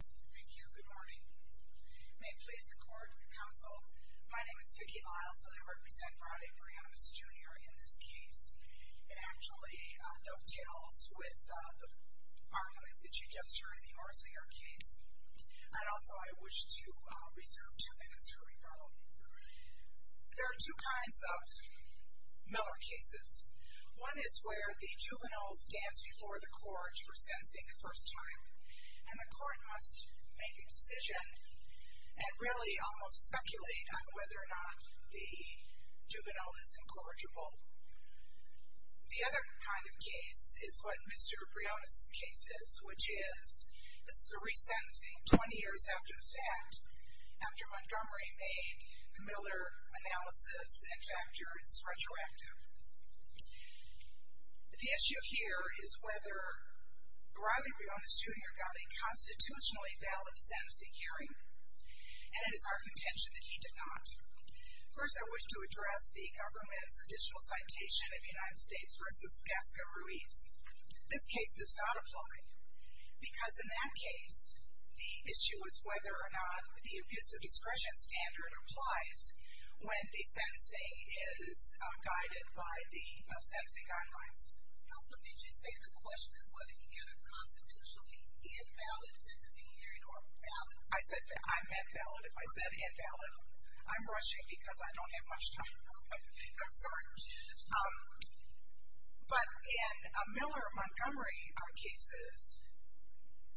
Thank you, good morning. May it please the court and the council, my name is Vicki Iles and I represent Riley Briones, Jr. in this case. It actually dovetails with the arguments that you just heard in the Orsinger case and also I wish to reserve two minutes for rebuttal. There are two kinds of Miller cases. One is where the juvenile stands before the court for sentencing the first time and the court must make a decision and really almost speculate on whether or not the juvenile is incorrigible. The other kind of case is what Mr. Briones' case is, which is, this is a resentencing 20 years after the fact, after Montgomery made the Miller analysis and factors retroactive. The issue here is whether Riley Briones, Jr. got a constitutionally valid sentencing hearing and it is our contention that he did not. First, I wish to address the government's additional citation of United States v. Gasca Ruiz. This case does not apply because in that case the issue is whether or not the abuse of discretion standard applies when the sentencing is guided by the sentencing guidelines. Also, did you say the question is whether he got a constitutionally invalid sentencing hearing or valid? I said that I'm invalid if I said invalid. I'm rushing because I don't have much time. I'm sorry. But in a Miller-Montgomery case,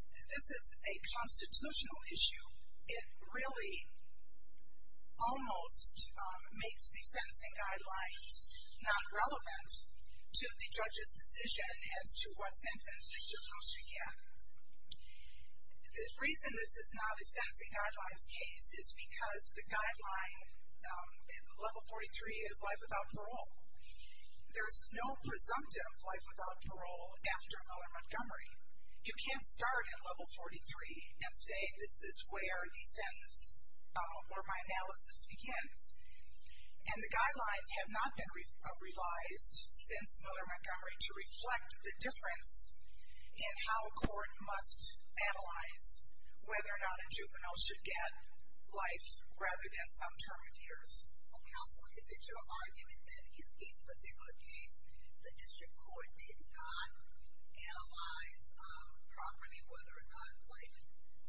this is a constitutional issue. It really almost makes the sentencing guidelines not relevant to the judge's decision as to what sentence the judge should get. The reason this is not a sentencing guidelines case is because the guideline in Level 43 is life without parole. There is no presumptive life without parole after Miller-Montgomery. You can't start at Level 43 and say this is where the sentence, where my analysis begins. And the difference in how a court must analyze whether or not a juvenile should get life rather than some term of years. Counsel, is it your argument that in this particular case the district court did not analyze properly whether or not life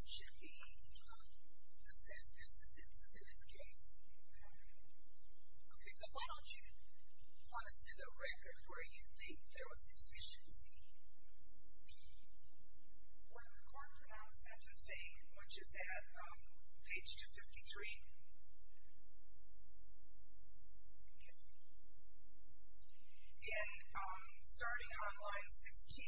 should be assessed as the sentence in this case? Okay, so why don't you point us to the record where you think there was deficiency? Well, the court pronounced sentencing, which is at page 253. And starting on line 16,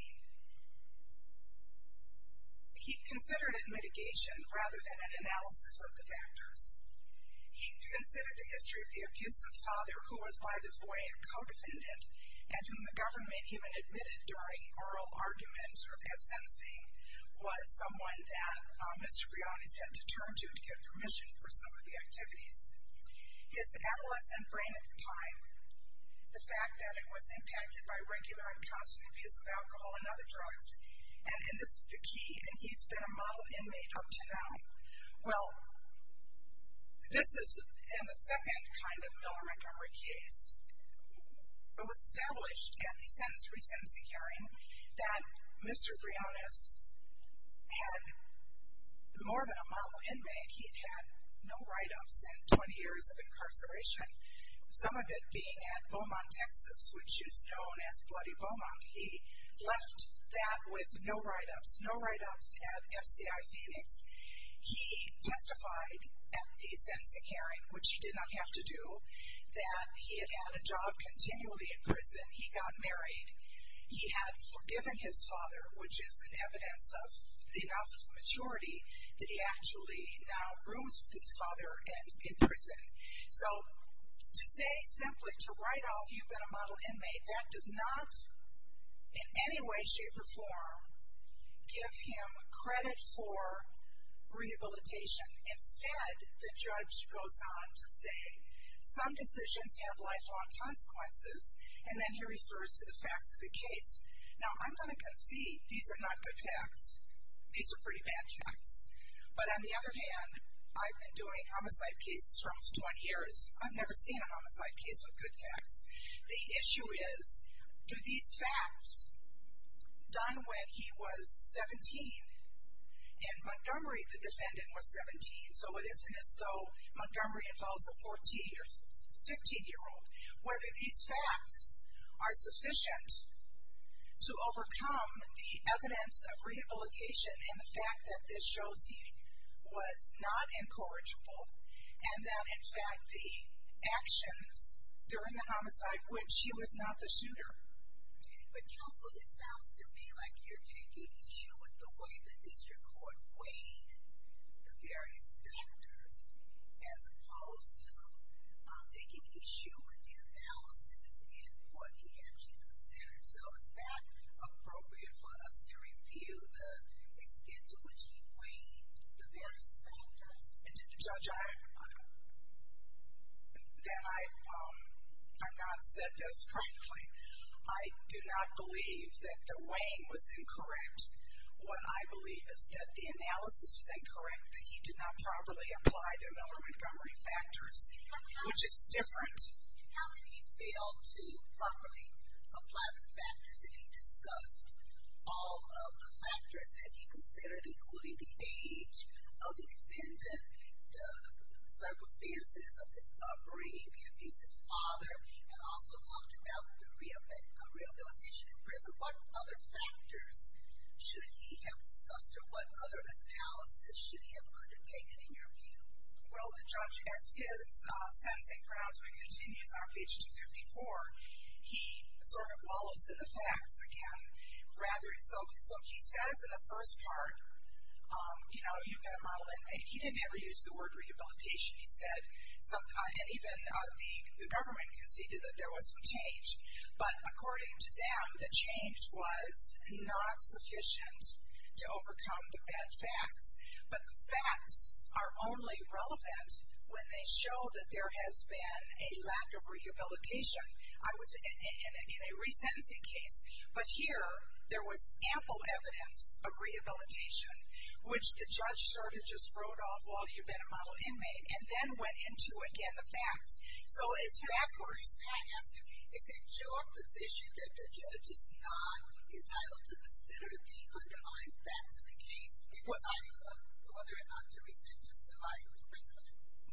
he considered it mitigation rather than an analysis of the factors. He considered the history of the abusive father who was, by the way, a co-defendant and whom the government even admitted during oral arguments or had sentencing, was someone that Mr. Brioni had to turn to to get permission for some of the activities. His adolescent brain at the time, the fact that it was impacted by regular and constant abuse of alcohol and other drugs, and this is the second kind of Miller Montgomery case. It was established at the sentence resentencing hearing that Mr. Brioni had, more than a month of inmate, he had no write-ups and 20 years of incarceration, some of it being at Beaumont, Texas, which is known as Bloody Beaumont. He left that with no write-ups, no write-ups at FCI Phoenix. He testified at the sentencing hearing, which he did not have to do, that he had had a job continually in prison. He got married. He had forgiven his father, which is an evidence of enough maturity that he actually now rooms with his father in prison. So, to say simply, to write off you've been a model inmate, that does not, in any way, shape, or form, give him credit for rehabilitation. Instead, the judge goes on to say, some decisions have lifelong consequences, and then he refers to the facts of the case. Now, I'm going to concede, these are not good facts. These are pretty bad facts. But on the other hand, I've been doing homicide cases for almost 20 years. I've never seen a homicide case with good facts. The issue is, do these facts, done when he was 17, and Montgomery, the defendant, was 17, so it isn't as though Montgomery involves a 14- or 15-year-old, whether these facts are sufficient to overcome the evidence of rehabilitation and the fact that this shows he was not incorrigible, and that, in fact, the defendant was not the shooter. But counsel, it sounds to me like you're taking issue with the way the district court weighed the various factors, as opposed to taking issue with the analysis and what he actually considered. So, is that appropriate for us to review the extent to which he weighed the various factors? Judge, I've not said this frankly. I do not believe that the weighing was incorrect. What I believe is that the analysis was incorrect, that he did not properly apply the Miller-Montgomery factors, which is different. How did he fail to properly apply the factors if he discussed all of the factors that he considered, including the age of the defendant, the circumstances of his upbringing, the abuse of his father, and also talked about the rehabilitation in prison? What other factors should he have discussed, or what other analysis should he have undertaken, in your view? Well, Judge, as his sentencing groundsman continues our page 254, he sort of dissolves in the facts again. So, he says in the first part, you know, you've got to model it. He didn't ever use the word rehabilitation. He said even the government conceded that there was some change. But according to them, the change was not sufficient to overcome the bad facts. But the facts are only relevant when they show that there has been a lack of rehabilitation. In a resentencing case, but here, there was ample evidence of rehabilitation, which the judge sort of just wrote off, well, you've been a model inmate, and then went into, again, the facts. So, it's backwards. Can I ask you, is it your position that the judge is not entitled to consider the underlying facts of the case, whether or not to resentence the life of the prisoner?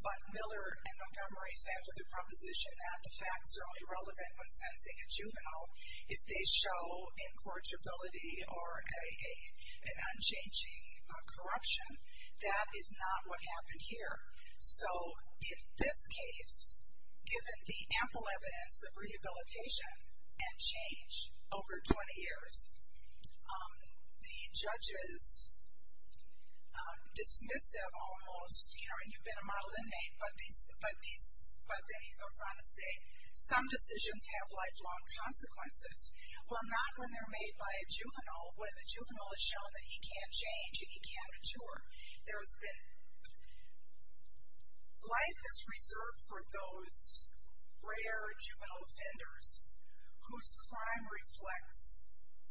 But Miller in Montgomery said with a proposition that the facts are only relevant when sentencing a juvenile. If they show incorrigibility or an unchanging corruption, that is not what happened here. So, in this case, given the ample evidence of rehabilitation and change over 20 years, the judges dismissed that almost, you know, and you've been a model inmate, but then he goes on to say some decisions have lifelong consequences. Well, not when they're made by a juvenile. When a juvenile is shown that he can't change and he can't mature. There's been, life is reserved for those rare juvenile offenders whose crime reflects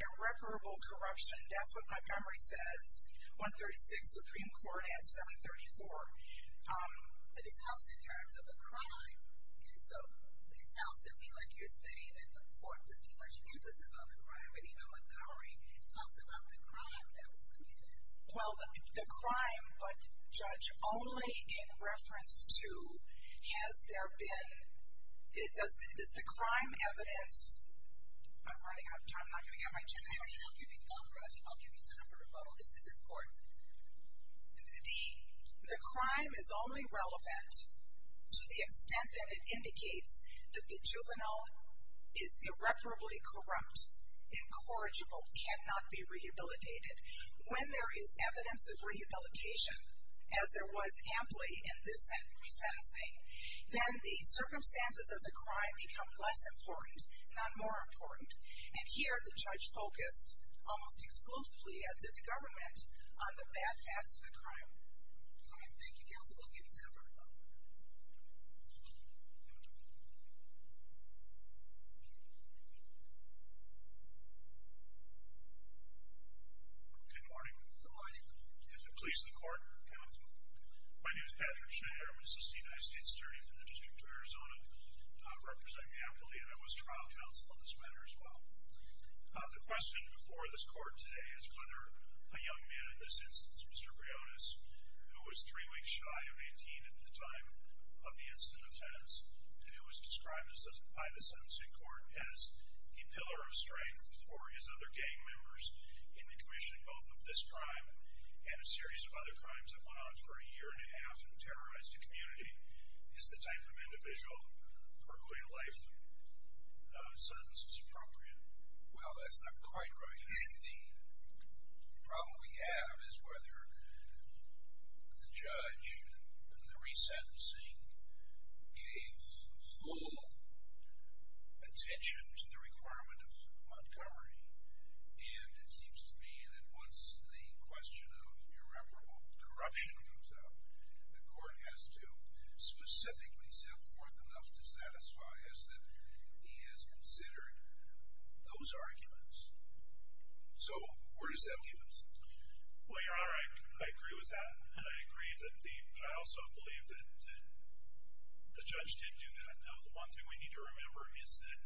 irreparable corruption. That's what Montgomery says. 136 Supreme Court Act 734. But it talks in terms of the crime. And so, it sounds to me like you're saying that the court put too much emphasis on the crime, but even Montgomery talks about the crime that was committed. Well, the crime, but judge only in I'm running out of time. I'm not going to get my chance. I'll give you time for rebuttal. This is important. The crime is only relevant to the extent that it indicates that the juvenile is irreparably corrupt, incorrigible, cannot be rehabilitated. When there is evidence of rehabilitation, as there was amply in this sentencing, then the circumstances of the crime become less important, not more important. And here, the judge focused, almost exclusively, as did the government, on the bad facts of the crime. Thank you, counsel. I'll give you time for rebuttal. Good morning. Good morning. Is there police in the court? My name is Patrick Schneider. I'm an assistant high state attorney for the District of Arizona, representing Ampley, and I was trial counsel on this matter as well. The question before this court today is whether a young man in this instance, Mr. Brionis, who was three weeks shy of 18 at the time of the incident of tenants, and who was described by the sentencing court as the pillar of strength for his other gang members in the commissioning both of this crime and a series of other crimes that went on for a year and a half and terrorized a community, is the type of individual for whom a life sentence is appropriate? Well, that's not quite right, indeed. The problem we have is whether the judge in the resentencing gave full attention to the requirement of Montgomery, and it seems to me that once the question of irreparable corruption comes up, the court has to specifically set forth enough to satisfy us that he has considered those arguments. So where does that leave us? Well, Your Honor, I agree with that, and I also believe that the judge did do that. Now, the one thing we need to remember is that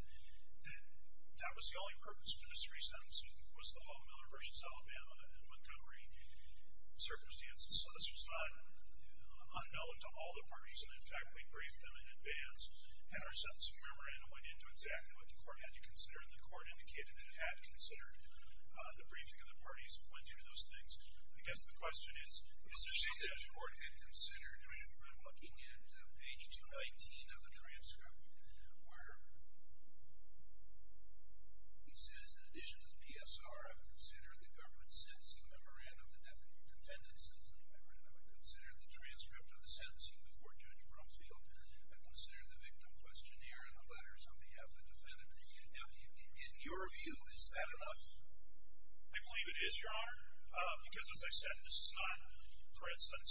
that was the only purpose for this resentencing was the Hall-Miller versus Alabama and Montgomery circumstances. So this was not unknown to all the parties, and in fact, we briefed them in advance, and our sentencing memorandum went into exactly what the court had to consider, and the court indicated that it had considered the briefing of the parties that went through those things. I guess the question is, is there something that the court had considered? I mean, I'm looking at page 219 of the transcript, where it says, in addition to the PSR, I've considered the government sentencing memorandum, the defendant sentencing memorandum, I've considered the transcript of the sentencing before Judge Brumfield, I've considered the victim questionnaire and the letters on behalf of the defendant. Now, in your view, is that enough? I believe it is, Your Honor, because as I said, this is not, for instance,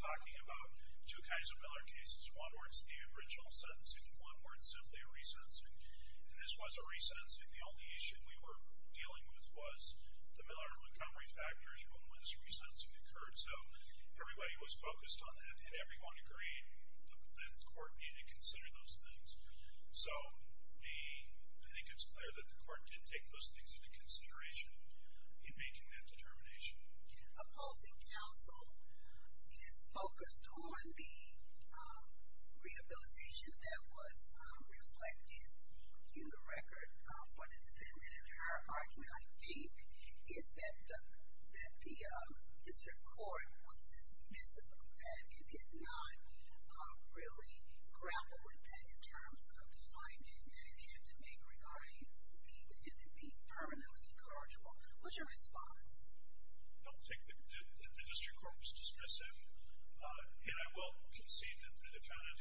talking about two kinds of Miller cases. One where it's the aboriginal sentencing, and one where it's simply a resentencing. And this was a resentencing. The only issue we were dealing with was the Miller and Montgomery factors when was resentencing occurred. So everybody was focused on that, and everyone agreed that the court needed to consider those things. So I think it's clear that the court did take those things into consideration in making that determination. Opposing counsel is focused on the rehabilitation that was reflected in the record for the defendant, and their argument, I think, is that the district court was dismissive of that. It did not really grapple with that in terms of finding that it needed to make regarding the defendant being permanently incorrigible. What's your response? I don't think that the district court was dismissive. And I will concede that the defendant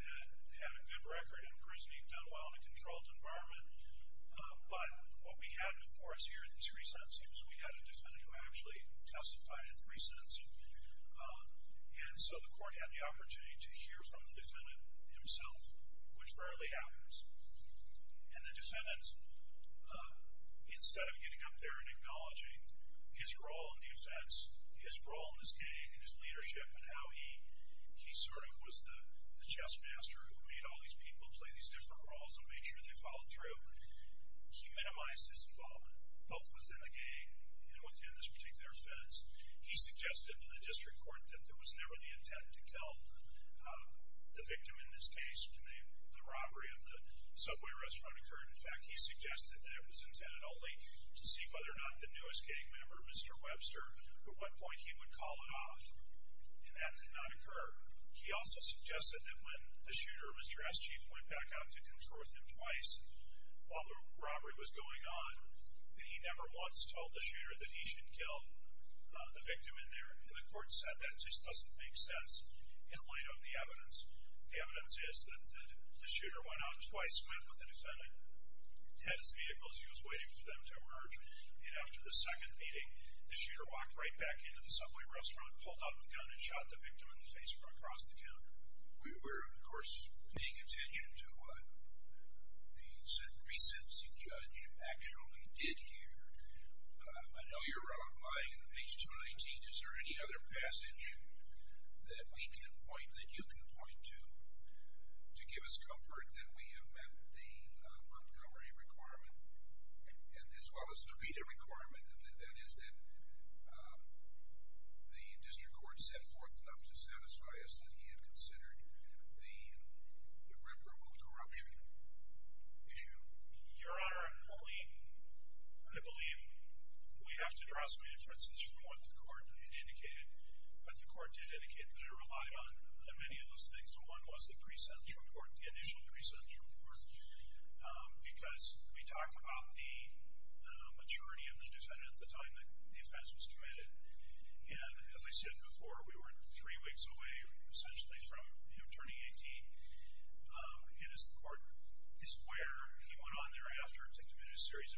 had a good record in prison. He'd done well in a controlled environment. But what we had before us here at this resentencing was we had a defendant who actually testified at the resentencing. And so the court had the And the defendant, instead of getting up there and acknowledging his role in the offense, his role in this gang, and his leadership, and how he sort of was the chess master who made all these people play these different roles and made sure they followed through, he minimized his involvement, both within the gang and within this particular offense. He suggested to the district court that there was never the intent to kill the victim in this case, the robbery of the subway restaurant occurred. In fact, he suggested that it was intended only to see whether or not the newest gang member, Mr. Webster, at what point he would call it off. And that did not occur. He also suggested that when the shooter, Mr. S. Chief, went back out to control with him twice while the robbery was going on, that he never once told the shooter that he should kill the victim in there. And the court said that just doesn't make sense in light of the The shooter went out twice, met with the defendant, had his vehicle as he was waiting for them to emerge, and after the second meeting, the shooter walked right back into the subway restaurant, pulled out the gun, and shot the victim in the face from across the counter. We were, of course, paying attention to what the sentencing judge actually did here. I know you're relying on page 219. Is there any other passage that we can point to, to give us comfort that we have met the Montgomery requirement, as well as the Reader requirement, and that is that the district court set forth enough to satisfy us that he had considered the irreparable corruption issue? Your Honor, I believe we have to draw some inferences from what the court indicated, but the court did indicate that it relied on many of those things. One was the pre-sentence report, the initial pre-sentence report, because we talked about the maturity of the defendant at the time that the offense was committed. And as I said before, we were three weeks away, essentially, from him turning 18. And as the court is aware, he went on thereafter to commit a series of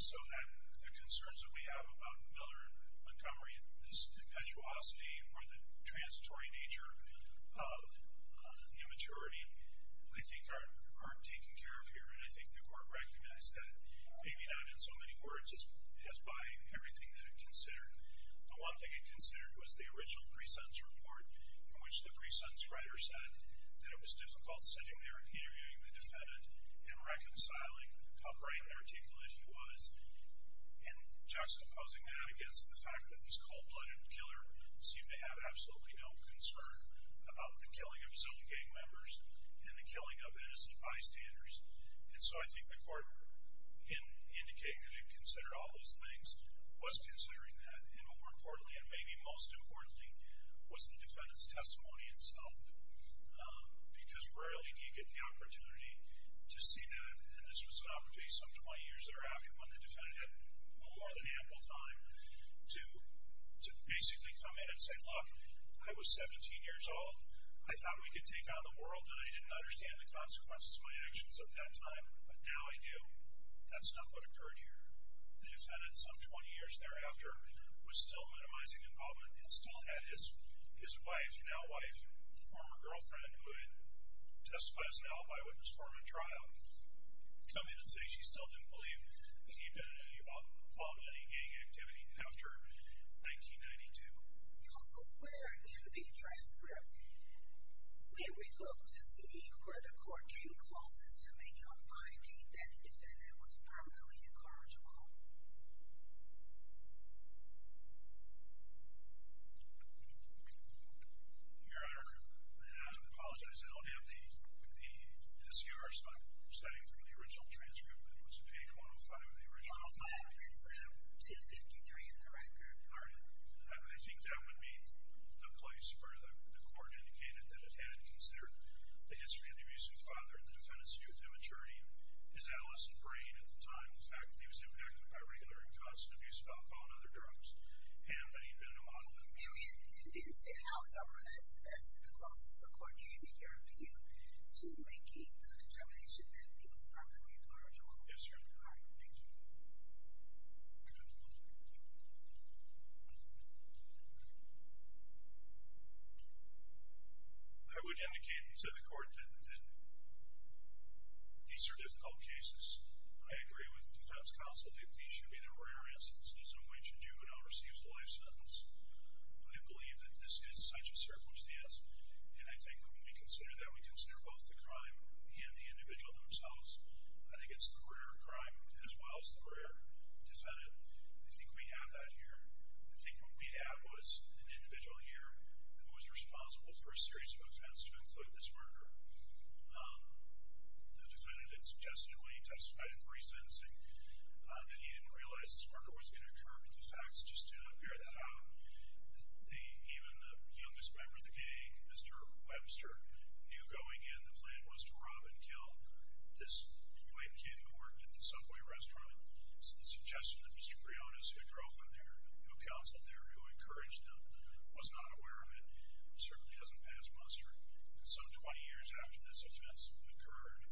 So the concerns that we have about Miller and Montgomery, this perpetuosity or the transitory nature of the immaturity, I think aren't taken care of here. And I think the court recognized that, maybe not in so many words as by everything that it considered. The one thing it considered was the original pre-sentence report, in which the pre-sentence writer said that it was difficult sitting there and interviewing the defendant and reconciling how bright and articulate he was. And juxtaposing that against the fact that this cold-blooded killer seemed to have absolutely no concern about the killing of his own gang members and the killing of innocent bystanders. And so I think the court, in indicating that it considered all those things, was considering that. And more importantly, and maybe most importantly, was the defendant's opportunity to see that. And this was an opportunity some 20 years thereafter when the defendant had more than ample time to basically come in and say, look, I was 17 years old. I thought we could take on the world, and I didn't understand the consequences of my actions at that time. But now I do. That's not what occurred here. The defendant, some 20 years thereafter, was still minimizing involvement and still had his wife, now wife, former girlfriend, who had testified as an alibi witness for him in trial, come in and say she still didn't believe that he had been involved in any gang activity after 1992. Also, where in the transcript may we look to see where the court came closest to finding that the defendant was permanently incorrigible? Your Honor, I apologize. I don't have the S.E.R. spot setting from the original transcript, but it was a page 105 of the original. 105. It's 253 in the record. All right. I think that would be the place where the court indicated that it had considered the history of the abusive father and the defendant's youth and maturity, his adolescent brain at the time, the fact that he was impacted by regular and constant abuse of alcohol and other drugs, and that he had been in a monolith. And then say, however, that's the closest the court came, in your view, to making the determination that he was permanently incorrigible? Yes, Your Honor. All right. Thank you. I would indicate to the court that these are difficult cases. I agree with the defense counsel that these should be the rare instances in which a juvenile receives a life sentence. I believe that this is such a circumstance, and I think when we consider that, we consider both the crime and the individual themselves. I think it's the rare crime as well as the rare defendant. I think we have that here. I think what we have was an individual here who was responsible for a series of offenses, including this murder. The defendant had suggested when he testified of resensing that he didn't realize this murder was going to occur, but the facts just do not bear that out. Even the youngest member of the gang, Mr. Webster, knew going in the plan was to rob and kill this white kid who worked at the Subway restaurant. The suggestion that Mr. Briones, who drove him there, who counseled there, who encouraged him, was not aware of it certainly doesn't pass muster. Some 20 years after this offense occurred,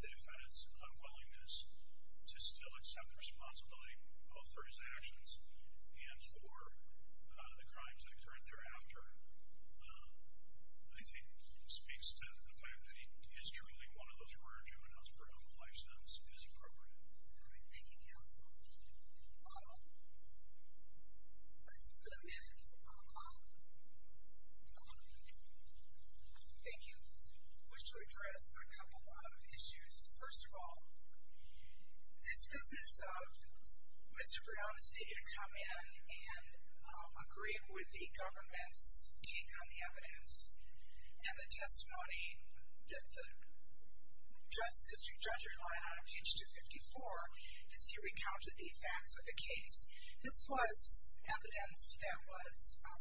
the defendant's unwillingness to still accept responsibility, both for his actions and for the crimes that occurred thereafter, I think speaks to the fact that he is truly one of those murder juveniles for whom the life sentence is appropriate. All right. Thank you, counsel. Let's put a minute on the clock. Thank you. I wish to address a couple of issues. First of all, this business of Mr. Briones didn't come in and agree with the government's take on the evidence and the testimony that the district judge relied on in page 254 as he recounted the facts of the case. This was evidence that was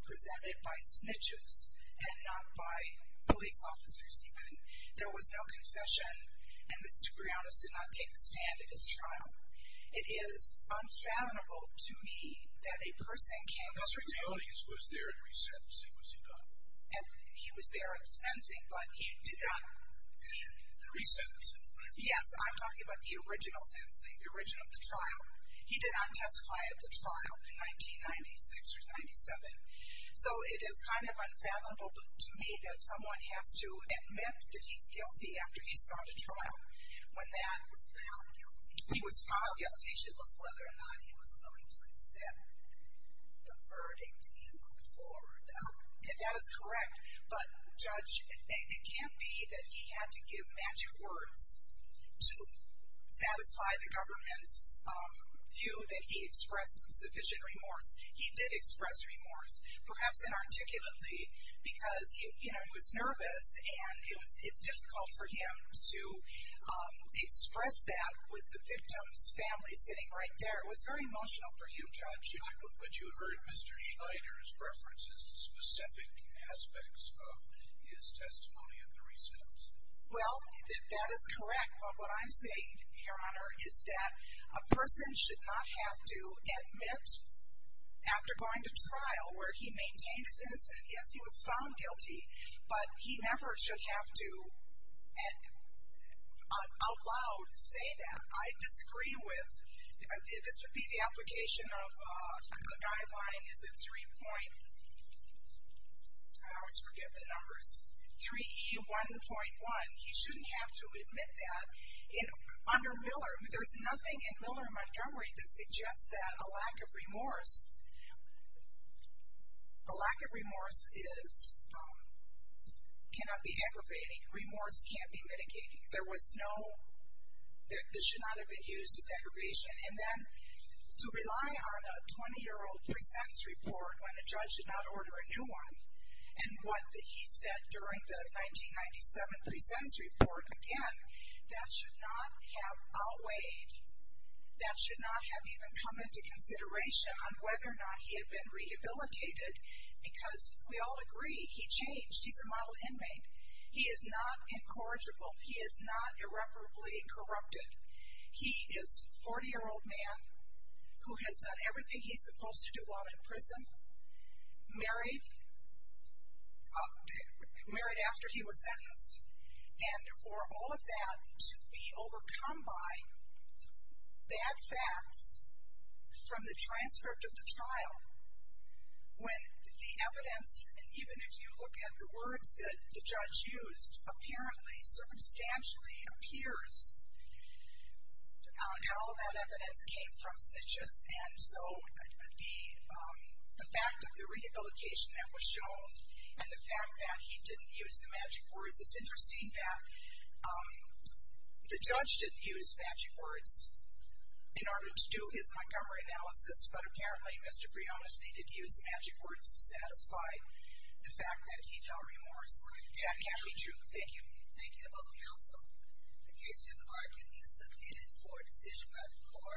presented by snitches and not by police officers even. There was no confession, and Mr. Briones did not take the stand at his trial. It is unfathomable to me that a person came up to me. Mr. Briones was there at resentencing, was he not? He was there at sentencing, but he did not. The resentencing? Yes. I'm talking about the original sentencing, the origin of the trial. He did not testify at the trial in 1996 or 97. So it is kind of unfathomable to me that someone has to admit that he's guilty after he's gone to trial when that was found guilty. He was found guilty. It was whether or not he was willing to accept the verdict he put forward. That is correct. But, Judge, it can't be that he had to give magic words to satisfy the government's view that he expressed sufficient remorse. He did express remorse, perhaps inarticulately, because, you know, he was nervous, and it's difficult for him to express that with the victim's family sitting right there. It was very emotional for you, Judge. But you heard Mr. Schneider's references to specific aspects of his testimony at the resent. Well, that is correct, but what I'm saying, Your Honor, is that a person should not have to admit after going to trial where he But he never should have to, out loud, say that. I disagree with, this would be the application of, the guideline is a 3 point, I always forget the numbers, 3E1.1. He shouldn't have to admit that. Under Miller, there's nothing in Miller-Montgomery that suggests that a lack of remorse, a lack of remorse is, cannot be aggravating. Remorse can't be mitigating. There was no, this should not have been used as aggravation. And then, to rely on a 20-year-old pre-sentence report when the judge did not order a new one, and what he said during the 1997 pre-sentence report, again, that should not have outweighed, that should not have even come into consideration on whether or not he had been rehabilitated, because we all agree, he changed. He's a model inmate. He is not incorrigible. He is not irreparably corrupted. He is a 40-year-old man who has done everything he's supposed to do while in prison, married, married after he was sentenced. And for all of that to be overcome by bad facts from the transcript of the trial, when the evidence, and even if you look at the words that the judge used, apparently, circumstantially appears on how that evidence came from Citrus, and so the fact of the rehabilitation that was shown, and the fact that he didn't use the magic words, it's interesting that the judge didn't use magic words in order to do his Montgomery analysis, but apparently Mr. Briones needed to use magic words to satisfy the fact that he felt remorse. That can't be true. Thank you. Thank you to both counsel. The case is argued and submitted for a decision by the court.